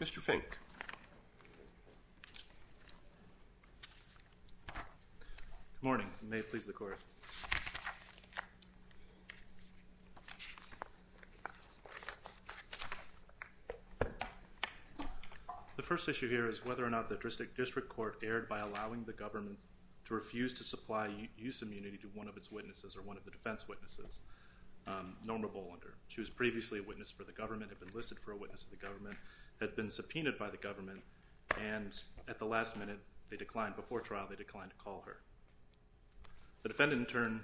Mr. Fink. Good morning. May it please the Court. The first issue here is whether or not the Dristic District Court erred by allowing the government to refuse to supply use immunity to one of its witnesses or one of the defense witnesses, Norma Bolander. She was previously a witness for the government, had been listed for a witness of the government, had been subpoenaed by the government, and at the last minute they declined, before trial, they declined to call her. The defendant in turn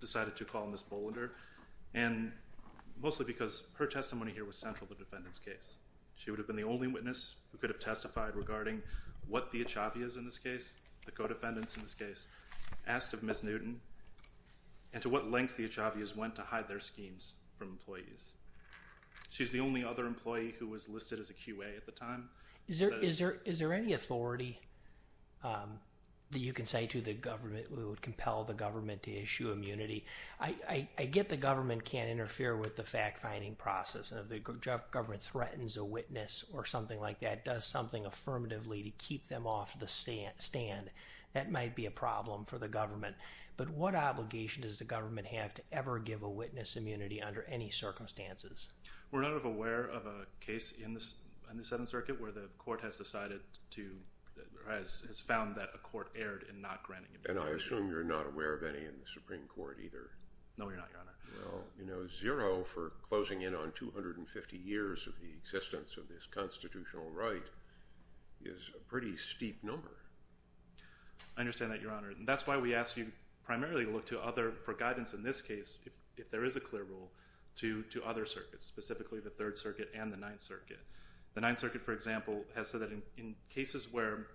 decided to call Ms. Bolander and mostly because her testimony here was central to the defendant's case. She would have been the only witness who could have testified regarding what the Achavias in this case, the co-defendants in this case, asked of Ms. Newton and to what lengths the Achavias went to hide their schemes from employees. She's the only other employee who was listed as a QA at the time. Is there any authority that you can say to the government who would compel the government to issue immunity? I get the government can't interfere with the fact-finding process and if the government threatens a witness or something like that, does something affirmatively to keep them off the stand, that might be a problem for the to ever give a witness immunity under any circumstances. We're not aware of a case in the Seventh Circuit where the court has decided to, has found that a court erred in not granting immunity. And I assume you're not aware of any in the Supreme Court either. No, we're not, Your Honor. Well, you know, zero for closing in on 250 years of the existence of this constitutional right is a pretty steep number. I understand that, Your Honor, and that's why we ask you primarily to look to other, for guidance in this case, if there is a clear rule, to other circuits, specifically the Third Circuit and the Ninth Circuit. The Ninth Circuit, for example, has said that in cases where,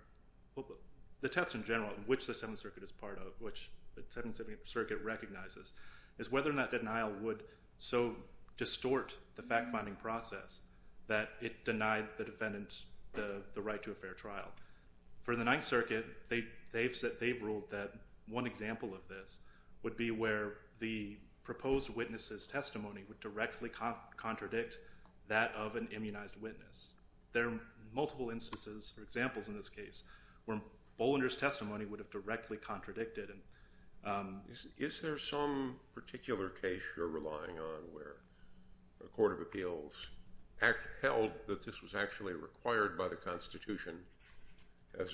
the test in general, which the Seventh Circuit is part of, which the Seventh Circuit recognizes, is whether or not denial would so distort the fact-finding process that it denied the defendant the right to a fair trial. For the Ninth Circuit, they've said, they've ruled that one example of this would be where the proposed witness's testimony would directly contradict that of an immunized witness. There are multiple instances or examples in this case where Bollinger's testimony would have directly contradicted and... Is there some particular case you're relying on where the Court of Appeals held that this was actually required by the Constitution? I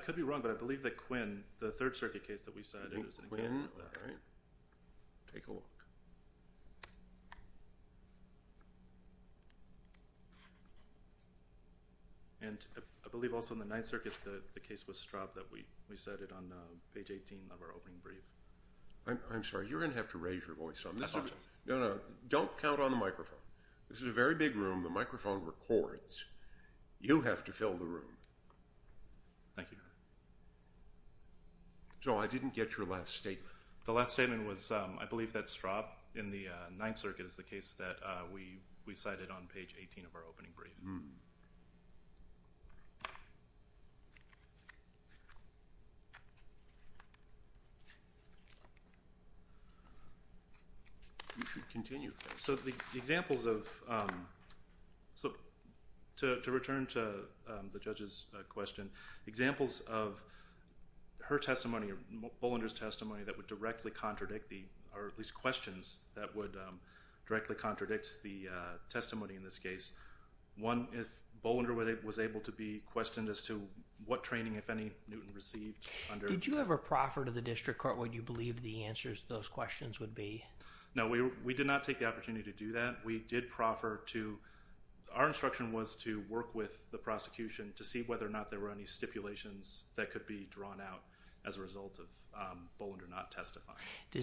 could be wrong, but I believe that Quinn, the Third Circuit case that we cited, was an example of that. Quinn, all right. Take a look. And I believe also in the Ninth Circuit, the case with Straub that we cited on page 18 of our opening brief. I'm sorry, you're going to have to raise your voice on this. No, no, don't count on the microphone. This is a very big room. The microphone records. You have to fill the room. Thank you. So I didn't get your last statement. The last statement was, I believe that Straub in the Ninth Circuit is the case that we cited on page 18 of our opening brief. You should continue. So the examples of... So to return to the judge's question, examples of her testimony or Bollinger's testimony that would directly contradicts the testimony in this case. One, if Bollinger was able to be questioned as to what training, if any, Newton received under... Did you ever proffer to the district court what you believed the answers to those questions would be? No, we did not take the opportunity to do that. We did proffer to... Our instruction was to work with the prosecution to see whether or not there were any stipulations that could be drawn out as a result of Bollinger not being able to be questioned. So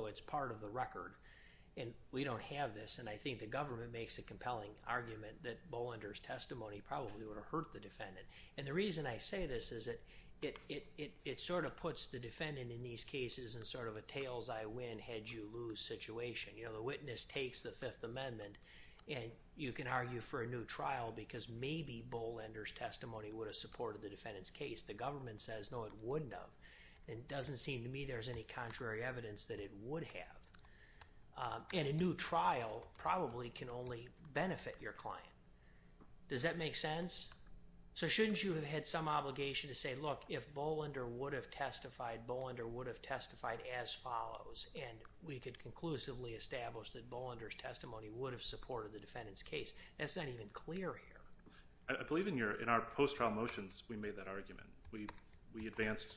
that's part of the record and we don't have this. And I think the government makes a compelling argument that Bollinger's testimony probably would have hurt the defendant. And the reason I say this is that it sort of puts the defendant in these cases in sort of a tails-I-win- head-you-lose situation. You know, the witness takes the Fifth Amendment and you can argue for a new trial because maybe Bollinger was able to be Bollinger's testimony would have supported the defendant's case. The government says, no, it wouldn't have. And it doesn't seem to me there's any contrary evidence that it would have. And a new trial probably can only benefit your client. Does that make sense? So shouldn't you have had some obligation to say, look, if Bollinger would have testified, Bollinger would have testified as follows. And we could conclusively establish that Bollinger's testimony would have supported the defendant's case. In our post-trial motions, we made that argument. We advanced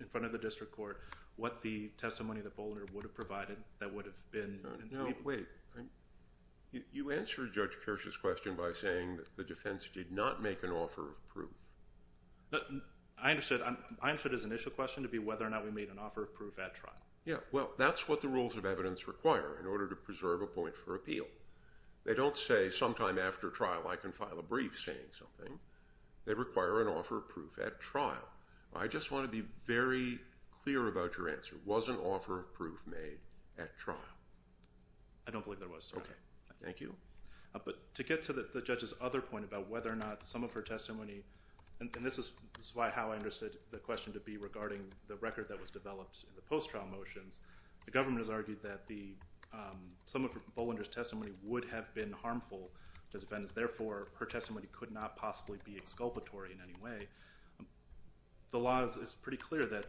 in front of the district court what the testimony that Bollinger would have provided that would have been- No, wait. You answered Judge Kirsch's question by saying that the defense did not make an offer of proof. I understood his initial question to be whether or not we made an offer of proof at trial. Yeah, well, that's what the rules of evidence require in order to preserve a point for They require an offer of proof at trial. I just want to be very clear about your answer. Was an offer of proof made at trial? I don't believe there was. Okay, thank you. But to get to the judge's other point about whether or not some of her testimony, and this is why how I understood the question to be regarding the record that was developed in the post-trial motions, the government has argued that some of Bollinger's testimony would have been harmful to defendants and wouldn't be exculpatory in any way. The law is pretty clear that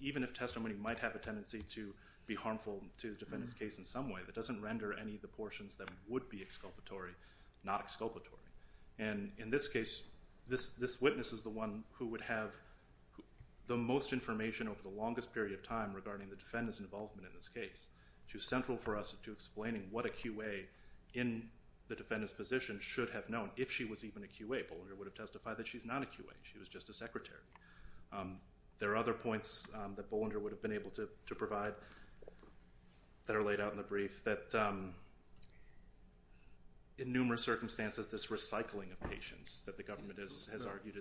even if testimony might have a tendency to be harmful to the defendant's case in some way, that doesn't render any of the portions that would be exculpatory not exculpatory. And in this case, this witness is the one who would have the most information over the longest period of time regarding the defendant's involvement in this case. She was central for us to explaining what a QA in the case would have testified, that she's not a QA, she was just a secretary. There are other points that Bollinger would have been able to provide that are laid out in the brief that in numerous circumstances this recycling of patients that the government has argued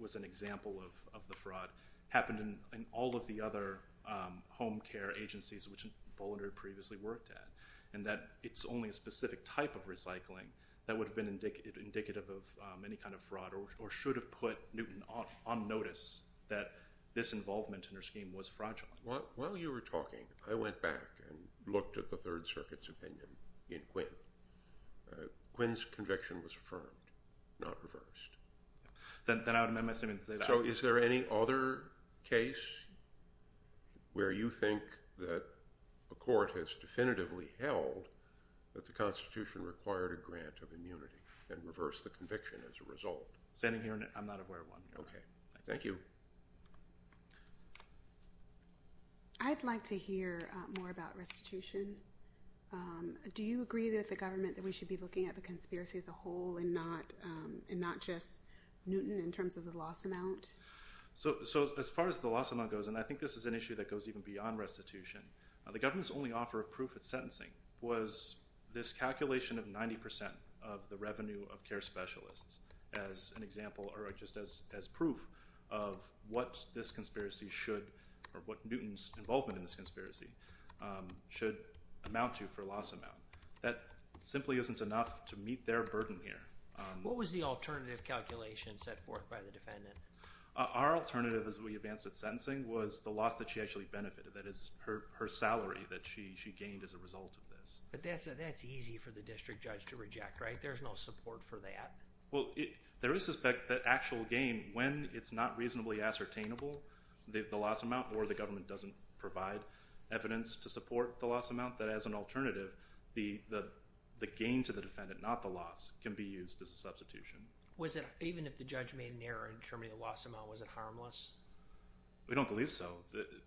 was an example of the fraud happened in all of the other home care agencies which Bollinger previously worked at, and that it's only a specific type of recycling that would have been indicative of any kind of fraud or should have put Newton on notice that this involvement in her scheme was fraudulent. While you were talking, I went back and looked at the Third Circuit's opinion in Quinn. Quinn's conviction was affirmed, not reversed. Then I would amend my statement to say that. So is there any other case where you think that a court has definitively held that the Constitution required a grant of restitution as a result? Standing here, I'm not aware of one. Okay, thank you. I'd like to hear more about restitution. Do you agree with the government that we should be looking at the conspiracy as a whole and not just Newton in terms of the loss amount? So as far as the loss amount goes, and I think this is an issue that goes even beyond restitution, the government's only offer of proof at as an example or just as proof of what this conspiracy should, or what Newton's involvement in this conspiracy, should amount to for loss amount. That simply isn't enough to meet their burden here. What was the alternative calculation set forth by the defendant? Our alternative as we advanced at sentencing was the loss that she actually benefited, that is her salary that she she gained as a result of this. But that's easy for the district judge to reject, right? There's no support for that. Well, there is suspect that actual gain, when it's not reasonably ascertainable, the loss amount, or the government doesn't provide evidence to support the loss amount, that as an alternative, the gain to the defendant, not the loss, can be used as a substitution. Was it, even if the judge made an error in determining the loss amount, was it harmless? We don't believe so.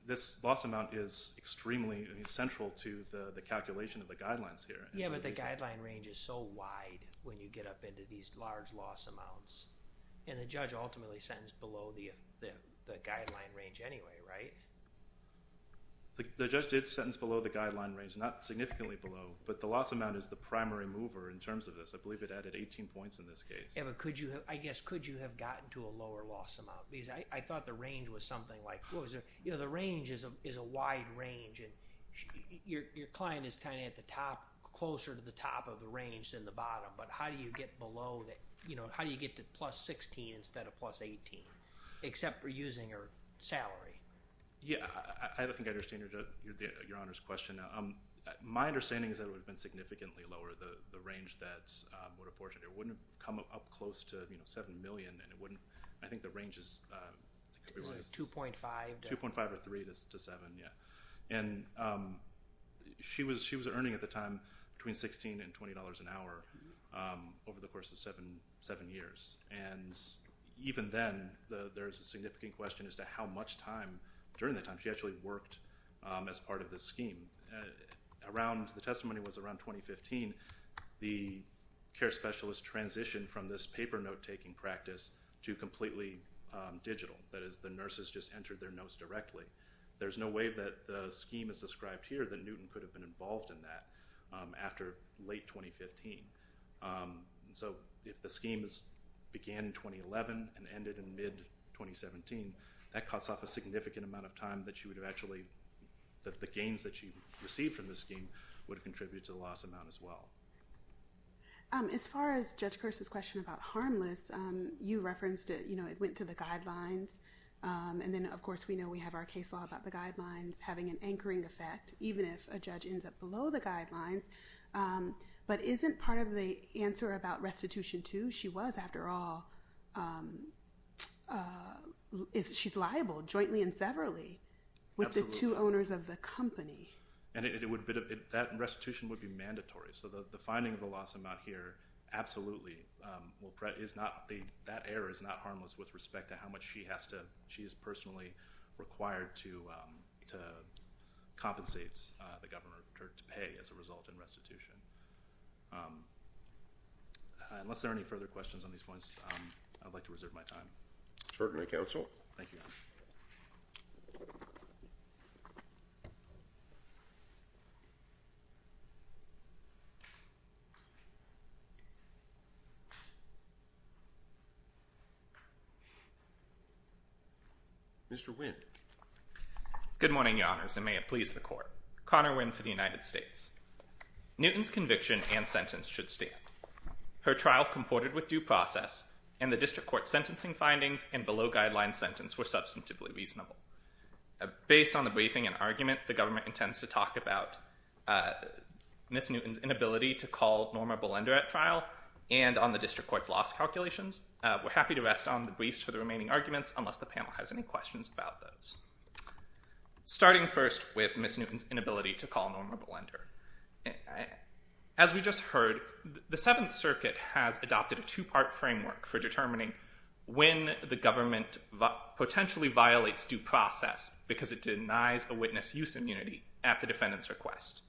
This loss amount is extremely central to the calculation of the get up into these large loss amounts. And the judge ultimately sentenced below the guideline range anyway, right? The judge did sentence below the guideline range, not significantly below, but the loss amount is the primary mover in terms of this. I believe it added 18 points in this case. Yeah, but could you, I guess, could you have gotten to a lower loss amount? Because I thought the range was something like, you know, the range is a wide range and your client is kind of at the top, closer to the top of the range than the bottom, but how do you get below that, you know, how do you get to plus 16 instead of plus 18, except for using her salary? Yeah, I don't think I understand your Honor's question. My understanding is that it would have been significantly lower, the range that would have portioned. It wouldn't have come up close to, you know, 7 million and it wouldn't, I think the range is 2.5, 2.5 or 3 to 7, yeah. And she was, she was earning at the time between $16 and $20 an hour over the course of seven, seven years. And even then, there's a significant question as to how much time during that time she actually worked as part of this scheme. Around, the testimony was around 2015, the care specialist transitioned from this paper note-taking practice to completely digital. That is, the nurses just entered their notes directly. There's no way that the scheme is described here that Newton could have been involved in that after late 2015. So, if the scheme began in 2011 and ended in mid-2017, that cuts off a significant amount of time that she would have actually, that the gains that she received from this scheme would contribute to the loss amount as well. As far as Judge Kirsten's question about harmless, you referenced it, you know, it went to the guidelines and then, of course, we know we have our case law about the guidelines having an anchoring effect, even if a judge ends up below the guidelines. But isn't part of the answer about restitution, too, she was, after all, she's liable jointly and severally with the two owners of the company. And it would be, that restitution would be mandatory. So, the finding of the loss amount here, absolutely, is not, that error is not harmless with respect to how much she has to, she is personally required to compensate the governor to pay as a result in restitution. Unless there are any further questions on these points, I'd like to reserve my time. Certainly, counsel. Thank you. Mr. Winn. Good morning, your honors, and may it please the court. Connor Winn for the United States. Newton's conviction and sentence should stand. Her trial comported with due process and the district court sentencing findings and below-guideline sentence were substantively reasonable. Based on the argument, the government intends to talk about Miss Newton's inability to call Norma Belender at trial and on the district court's loss calculations. We're happy to rest on the briefs for the remaining arguments, unless the panel has any questions about those. Starting first with Miss Newton's inability to call Norma Belender. As we just heard, the Seventh Circuit has adopted a two-part framework for determining when the government potentially violates due process because it denies a witness use immunity at the defendant's request.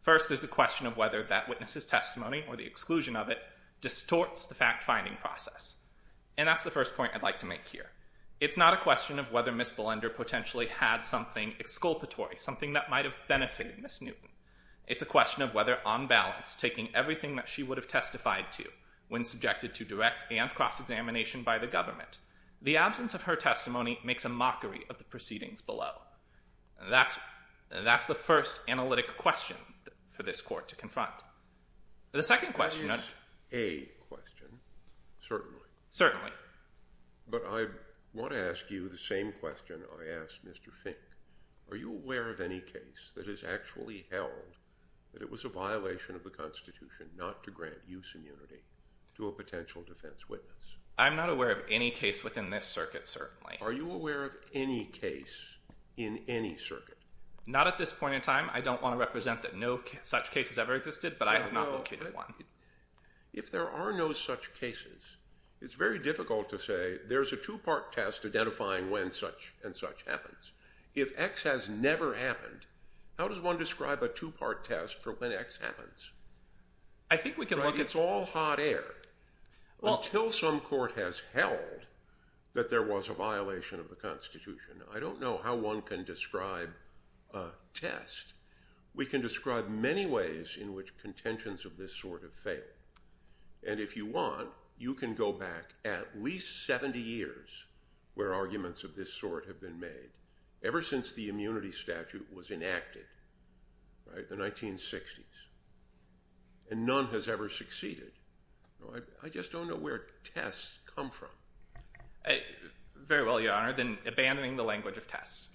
First, there's the question of whether that witness's testimony, or the exclusion of it, distorts the fact-finding process. And that's the first point I'd like to make here. It's not a question of whether Miss Belender potentially had something exculpatory, something that might have benefited Miss Newton. It's a question of whether, on balance, taking everything that she would have testified to when subjected to direct and cross-examination by the government, the proceedings below. And that's the first analytic question for this court to confront. The second question... Certainly. But I want to ask you the same question I asked Mr. Fink. Are you aware of any case that has actually held that it was a violation of the Constitution not to grant use immunity to a potential defense witness? I'm not aware of any case within this circuit, certainly. Are you aware of any case in any circuit? Not at this point in time. I don't want to represent that no such case has ever existed, but I have not located one. If there are no such cases, it's very difficult to say there's a two-part test identifying when such and such happens. If X has never happened, how does one describe a two-part test for when X happens? It's all hot air. Until some court has held that there was a violation of the Constitution, I don't know how one can describe a test. We can describe many ways in which contentions of this sort have failed. And if you want, you can go back at least 70 years where arguments of this sort have been made, ever since the immunity statute was enacted in the 1960s. And none has ever succeeded. I just don't know where tests come from. Very well, Your Honor, then abandoning the language of tests.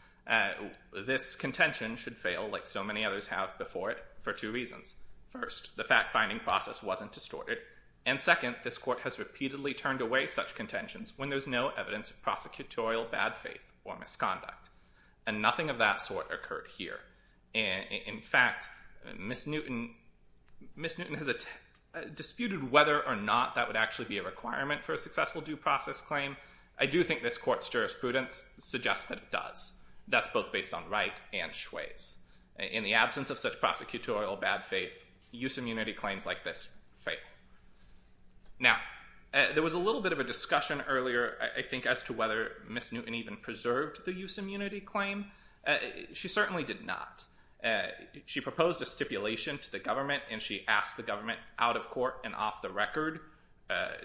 This contention should fail, like so many others have before it, for two reasons. First, the fact-finding process wasn't distorted. And second, this court has repeatedly turned away such contentions when there's no evidence of prosecutorial bad faith or misconduct. And nothing of that sort occurred here. In fact, Ms. Newton has disputed whether or not that would actually be a requirement for a successful due process claim. I do think this court's jurisprudence suggests that it does. That's both based on right and schways. In the absence of such prosecutorial bad faith, use immunity claims like this fail. Now, there was a little bit of a discussion earlier, I think, as to whether Ms. Newton even preserved the use immunity claim. She certainly did not. She proposed a stipulation to the government, and she asked the government, out of court and off the record,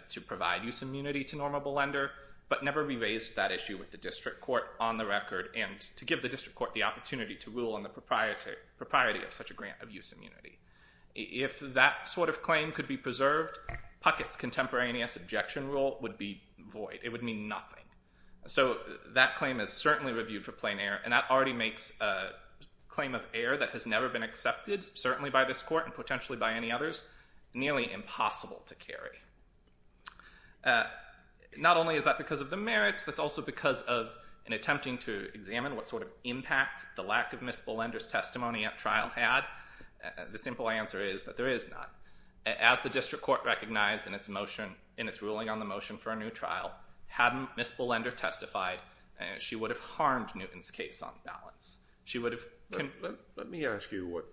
to provide use immunity to normable lender, but never re-raised that issue with the district court on the record, and to give the district court the opportunity to rule on the propriety of such a grant of use immunity. If that sort of claim could be preserved, Puckett's contemporaneous objection rule would be void. It would mean nothing. So that claim is certainly reviewed for plain error, and that already makes a claim of error that has never been accepted, certainly by this court and potentially by any others, nearly impossible to carry. Not only is that because of the merits, that's also because of an attempting to examine what sort of impact the lack of Ms. Bullender's testimony at trial had. The simple answer is that there is none. As the district court recognized in its ruling on the motion for a new trial, hadn't Ms. Bullender testified, she would have harmed Newton's case on balance. Let me ask you what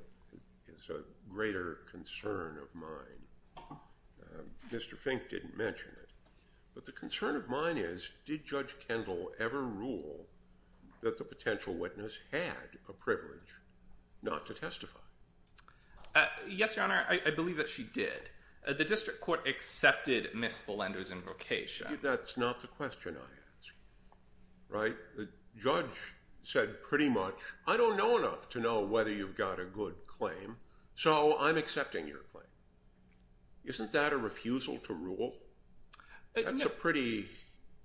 is a greater concern of mine. Mr. Fink didn't mention it, but the concern of mine is, did Judge Kendall ever rule that the potential witness had a privilege not to testify? Yes, Your Honor, I believe that she did. The district court accepted Ms. Bullender's invocation. That's not the question I asked. The judge said pretty much, I don't know enough to know whether you've got a good claim, so I'm accepting your claim. Isn't that a refusal to rule? That's a pretty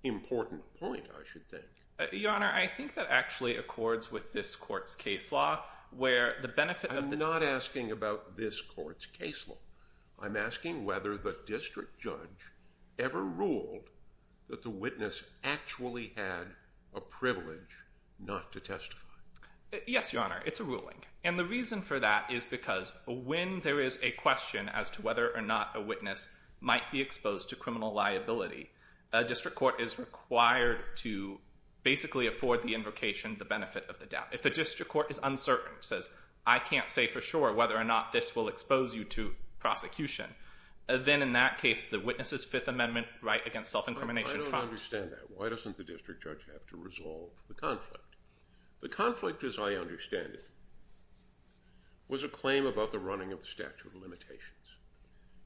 important point, I should think. Your Honor, I think that actually accords with this court's case law. I'm not asking about this court's case law. I'm asking whether the district judge ever ruled that the witness actually had a privilege not to testify. Yes, Your Honor, it's a ruling. And the reason for that is because when there is a question as to whether or not a witness might be exposed to criminal liability, a district court is required to basically afford the invocation the benefit of the doubt. If the district court is uncertain, says, I can't say for sure whether or not this will expose you to prosecution, then in that case, the witness's Fifth Amendment right against self-incrimination trial— As conflicted as I understand it, was a claim about the running of the statute of limitations.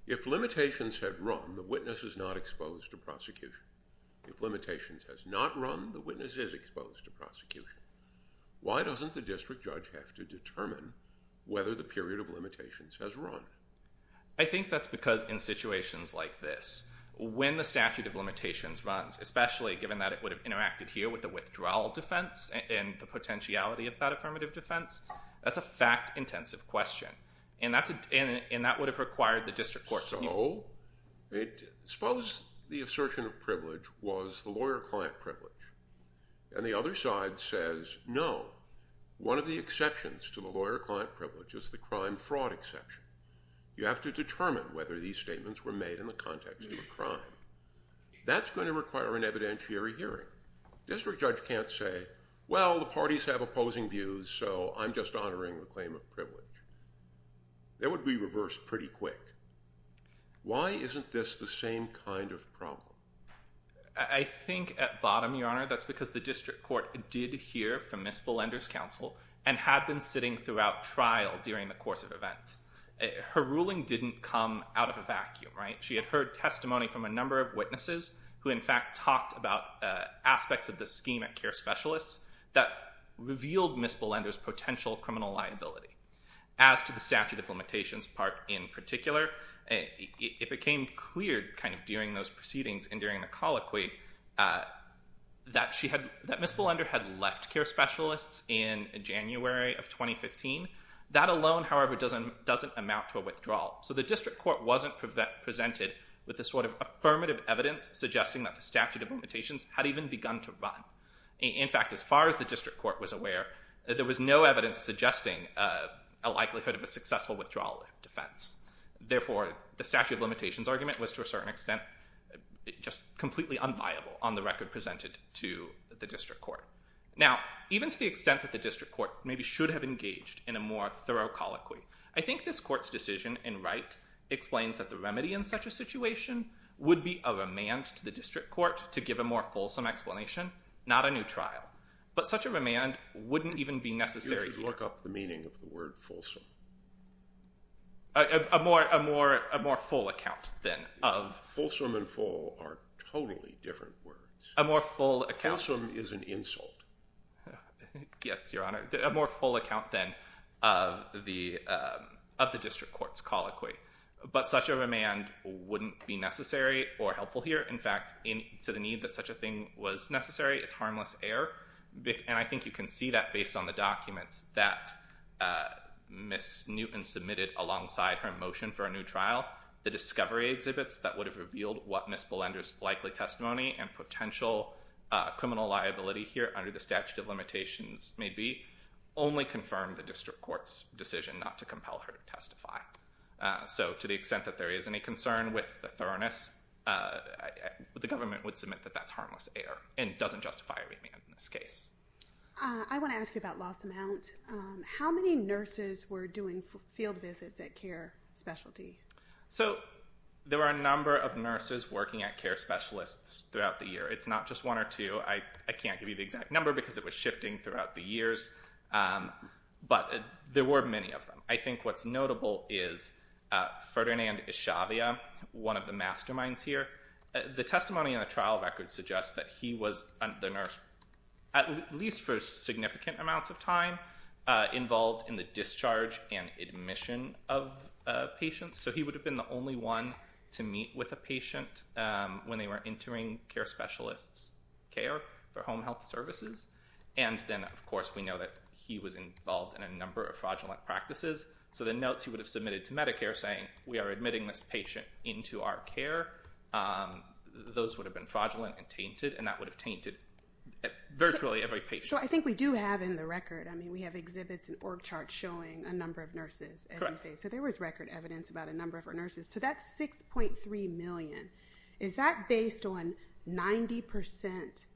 If limitations had run, the witness is not exposed to prosecution. If limitations has not run, the witness is exposed to prosecution. Why doesn't the district judge have to determine whether the period of limitations has run? I think that's because in situations like this, when the statute of limitations runs, especially given that it would have interacted here with the withdrawal defense and the potentiality of that affirmative defense, that's a fact-intensive question. And that would have required the district court to— Suppose the assertion of privilege was the lawyer-client privilege. And the other side says, no, one of the exceptions to the lawyer-client privilege is the crime-fraud exception. You have to determine whether these statements were made in the context of a crime. That's going to require an evidentiary hearing. District judge can't say, well, the parties have opposing views, so I'm just honoring the claim of privilege. It would be reversed pretty quick. Why isn't this the same kind of problem? I think at bottom, Your Honor, that's because the district court did hear from Ms. Belender's counsel and had been sitting throughout trial during the course of events. Her ruling didn't come out of a vacuum. She had heard testimony from a number of witnesses who, in fact, talked about aspects of the scheme at care specialists that revealed Ms. Belender's potential criminal liability. As to the statute of limitations part in particular, it became clear during those proceedings and during the colloquy that Ms. Belender had left care specialists in January of 2015. That alone, however, doesn't amount to a withdrawal. So the district court wasn't presented with the sort of affirmative evidence suggesting that the statute of limitations had even begun to run. In fact, as far as the district court was aware, there was no evidence suggesting a likelihood of a successful withdrawal defense. Therefore, the statute of limitations argument was, to a certain extent, just completely unviable on the record presented to the district court. Now, even to the extent that the district court maybe should have engaged in a more thorough colloquy, I think this court's decision in Wright explains that the remedy in such a situation would be a remand to the district court to give a more fulsome explanation, not a new trial. But such a remand wouldn't even be necessary here. You should look up the meaning of the word fulsome. A more full account, then. Fulsome and full are totally different words. A more full account. Fulsome is an insult. Yes, Your Honor. A more full account, then, of the district court's colloquy. But such a remand wouldn't be necessary or helpful here. In fact, to the need that such a thing was necessary, it's harmless error. And I think you can see that based on the documents that Ms. Newton submitted alongside her motion for a new trial. The discovery exhibits that would have revealed what Ms. Belender's likely testimony and potential criminal liability here under the statute of limitations may be only confirmed the district court's decision not to compel her to testify. So to the extent that there is any concern with the thoroughness, the government would submit that that's harmless error and doesn't justify a remand in this case. I want to ask you about loss amount. How many nurses were doing field visits at care specialty? So there were a number of nurses working at care specialists throughout the year. It's not just one or two. I can't give you the exact number because it was shifting throughout the years. But there were many of them. I think what's notable is Ferdinand Eshavia, one of the masterminds here. The testimony in the trial record suggests that he was the nurse, at least for significant amounts of time, involved in the discharge and admission of patients. So he would have been the only one to meet with a patient when they were entering care specialists' care for home health services. And then, of course, we know that he was involved in a number of fraudulent practices. So the notes he would have submitted to Medicare saying, we are admitting this patient into our care, those would have been fraudulent and tainted. And that would have tainted virtually every patient. So I think we do have in the record, I mean, we have exhibits and org charts showing a number of nurses, as you say. So there was record evidence about a number of nurses. So that's 6.3 million. Is that based on 90%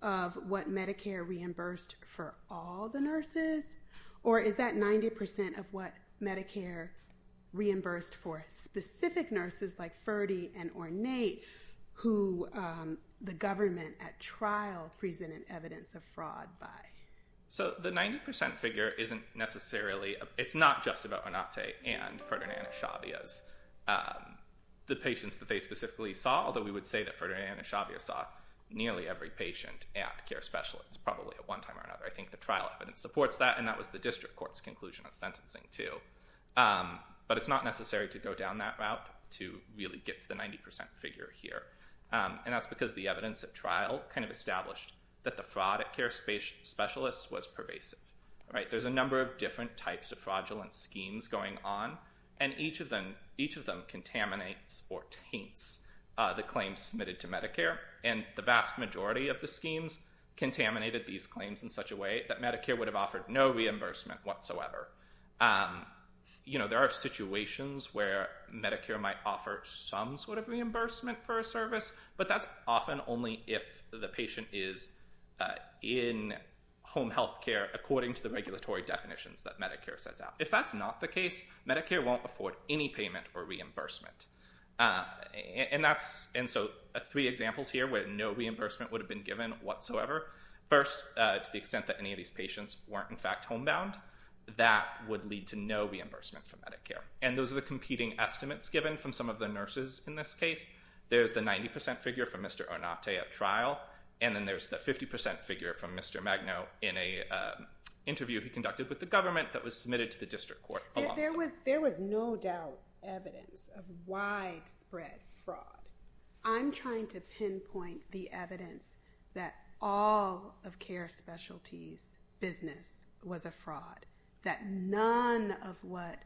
of what Medicare reimbursed for all the nurses? Or is that 90% of what Medicare reimbursed for specific nurses like Ferdy and Ornate, who the government at trial presented evidence of fraud by? So the 90% figure isn't necessarily, it's not just about Ornate and Ferdinand Eshavia. The patients that they specifically saw, although we would say that Ferdinand Eshavia saw nearly every patient at care specialists, probably at one time or another. I think the trial evidence supports that, and that was the district court's conclusion of sentencing too. But it's not necessary to go down that route to really get to the 90% figure here. And that's because the evidence at trial kind of established that the fraud at care specialists was pervasive. There's a number of different types of fraudulent schemes going on, and each of them contaminates or taints the claims submitted to Medicare. And the vast majority of the schemes contaminated these claims in such a way that Medicare would have offered no reimbursement whatsoever. There are situations where Medicare might offer some sort of reimbursement for a service, but that's often only if the patient is in home health care according to the regulatory definitions that Medicare sets out. If that's not the case, Medicare won't afford any payment or reimbursement. And so three examples here where no reimbursement would have been given whatsoever. First, to the extent that any of these patients weren't in fact homebound, that would lead to no reimbursement from Medicare. And those are the competing estimates given from some of the nurses in this case. There's the 90% figure from Mr. Onate at trial, and then there's the 50% figure from Mr. Magno in an interview he conducted with the government that was submitted to the district court. There was no doubt evidence of widespread fraud. I'm trying to pinpoint the evidence that all of care specialties' business was a fraud. That none of what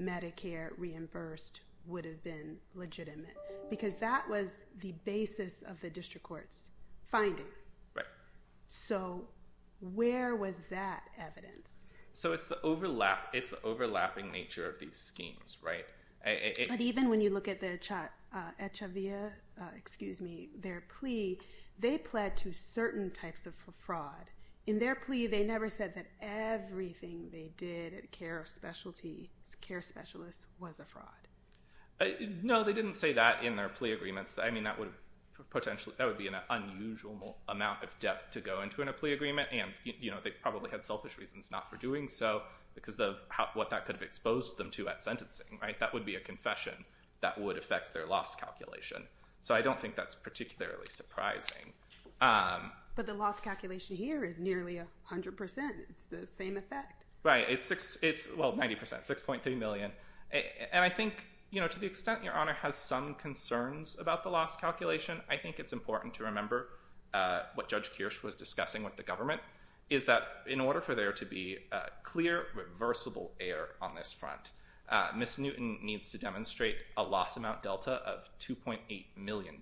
Medicare reimbursed would have been legitimate. Because that was the basis of the district court's finding. Right. So where was that evidence? So it's the overlapping nature of these schemes, right? But even when you look at their plea, they pled to certain types of fraud. In their plea, they never said that everything they did at care specialists was a fraud. No, they didn't say that in their plea agreements. I mean, that would be an unusual amount of depth to go into in a plea agreement. And they probably had selfish reasons not for doing so because of what that could have exposed them to at sentencing. That would be a confession that would affect their loss calculation. So I don't think that's particularly surprising. But the loss calculation here is nearly 100%. It's the same effect. Right. Well, 90%. 6.3 million. And I think, to the extent Your Honor has some concerns about the loss calculation, I think it's important to remember what Judge Kirsch was discussing with the government. Is that in order for there to be clear, reversible air on this front, Ms. Newton needs to demonstrate a loss amount delta of $2.8 million.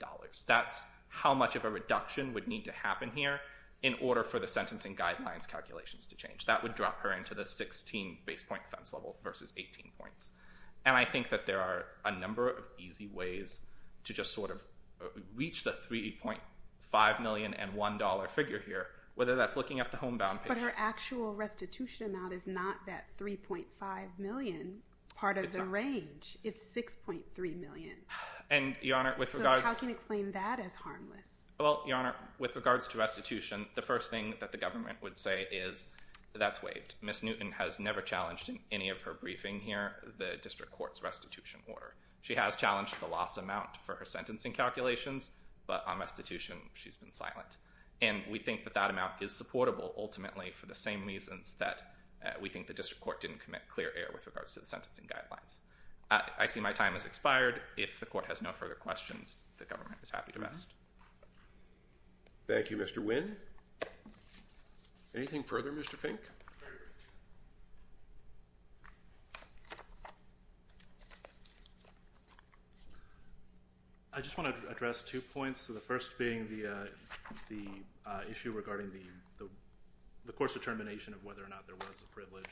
That's how much of a reduction would need to happen here in order for the sentencing guidelines calculations to change. That would drop her into the 16 base point offense level versus 18 points. And I think that there are a number of easy ways to just sort of reach the $3.5 million and $1 figure here. Whether that's looking at the homebound payment. But her actual restitution amount is not that $3.5 million part of the range. It's $6.3 million. And, Your Honor, with regards... So how can you explain that as harmless? Well, Your Honor, with regards to restitution, the first thing that the government would say is that's waived. Ms. Newton has never challenged in any of her briefing here the district court's restitution order. She has challenged the loss amount for her sentencing calculations. But on restitution, she's been silent. And we think that that amount is supportable ultimately for the same reasons that we think the district court didn't commit clear error with regards to the sentencing guidelines. I see my time has expired. If the court has no further questions, the government is happy to rest. Thank you, Mr. Wynn. Anything further, Mr. Fink? Thank you. I just want to address two points, the first being the issue regarding the course determination of whether or not there was a privilege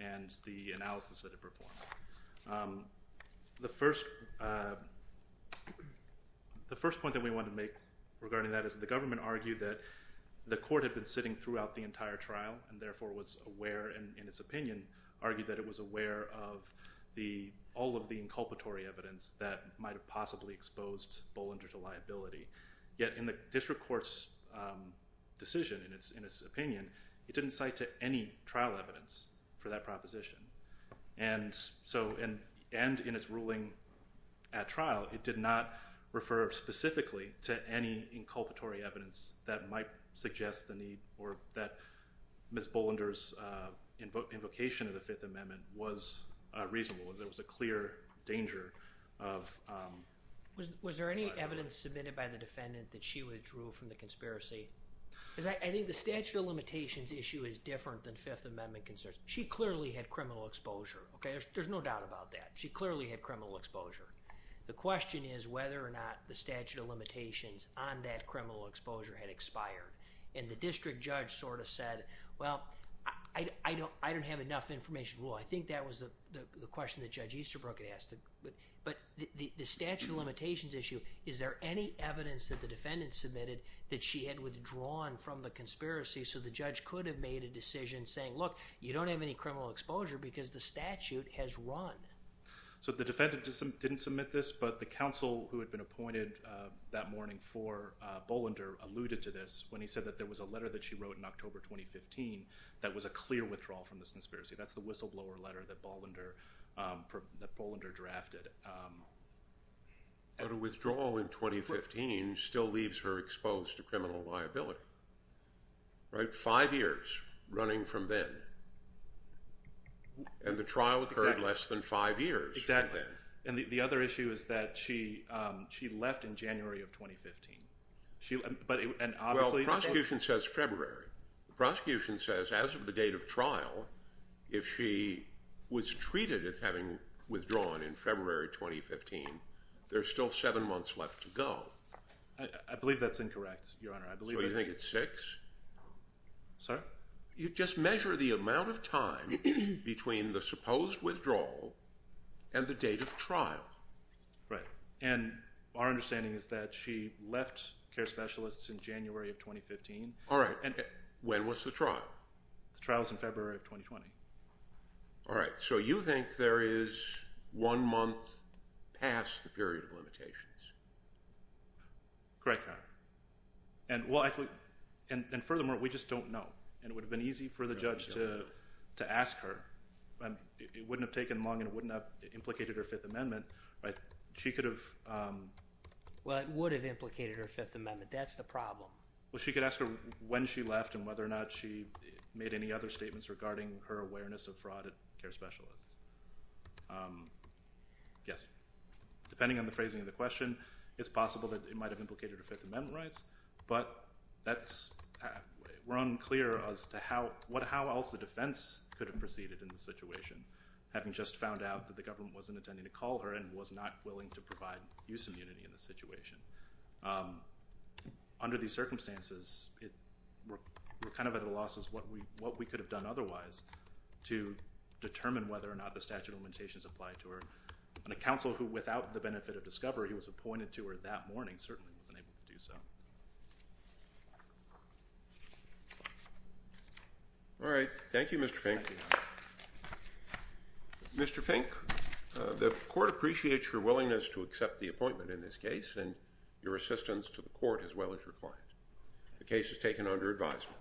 and the analysis that it performed. The first point that we want to make regarding that is the government argued that the court had been sitting throughout the entire trial and therefore was aware, in its opinion, argued that it was aware of all of the inculpatory evidence that might have possibly exposed Bollinger to liability. Yet in the district court's decision, in its opinion, it didn't cite to any trial evidence for that proposition. And in its ruling at trial, it did not refer specifically to any inculpatory evidence that might suggest the need or that Ms. Bollinger's invocation of the Fifth Amendment was reasonable, that there was a clear danger of liability. Was there any evidence submitted by the defendant that she withdrew from the conspiracy? Because I think the statute of limitations issue is different than Fifth Amendment concerns. She clearly had criminal exposure, okay? There's no doubt about that. She clearly had criminal exposure. The question is whether or not the statute of limitations on that criminal exposure had expired. And the district judge sort of said, well, I don't have enough information. Well, I think that was the question that Judge Easterbrook had asked. But the statute of limitations issue, is there any evidence that the defendant submitted that she had withdrawn from the conspiracy so the judge could have made a decision saying, look, you don't have any criminal exposure because the statute has run? So the defendant didn't submit this, but the counsel who had been appointed that morning for Bollinger alluded to this when he said that there was a letter that she wrote in October 2015 that was a clear withdrawal from this conspiracy. That's the whistleblower letter that Bollinger drafted. But a withdrawal in 2015 still leaves her exposed to criminal liability, right? And the trial occurred less than five years. Exactly. And the other issue is that she left in January of 2015. Well, the prosecution says February. The prosecution says as of the date of trial, if she was treated as having withdrawn in February 2015, there's still seven months left to go. I believe that's incorrect, Your Honor. So you think it's six? Sorry? You just measure the amount of time between the supposed withdrawal and the date of trial. Right. And our understanding is that she left CARE Specialists in January of 2015. All right. When was the trial? The trial was in February of 2020. All right. Correct, Your Honor. And furthermore, we just don't know. And it would have been easy for the judge to ask her. It wouldn't have taken long and it wouldn't have implicated her Fifth Amendment. She could have… Well, it would have implicated her Fifth Amendment. That's the problem. Well, she could ask her when she left and whether or not she made any other statements regarding her awareness of fraud at CARE Specialists. Yes. Depending on the phrasing of the question, it's possible that it might have implicated her Fifth Amendment rights, but we're unclear as to how else the defense could have proceeded in this situation, having just found out that the government wasn't intending to call her and was not willing to provide use immunity in this situation. Under these circumstances, we're kind of at a loss as to what we could have done otherwise to determine whether or not the statute of limitations applied to her. And a counsel who, without the benefit of discovery, was appointed to her that morning certainly wasn't able to do so. All right. Thank you, Mr. Fink. Mr. Fink, the court appreciates your willingness to accept the appointment in this case and your assistance to the court as well as your client. The case is taken under advisement.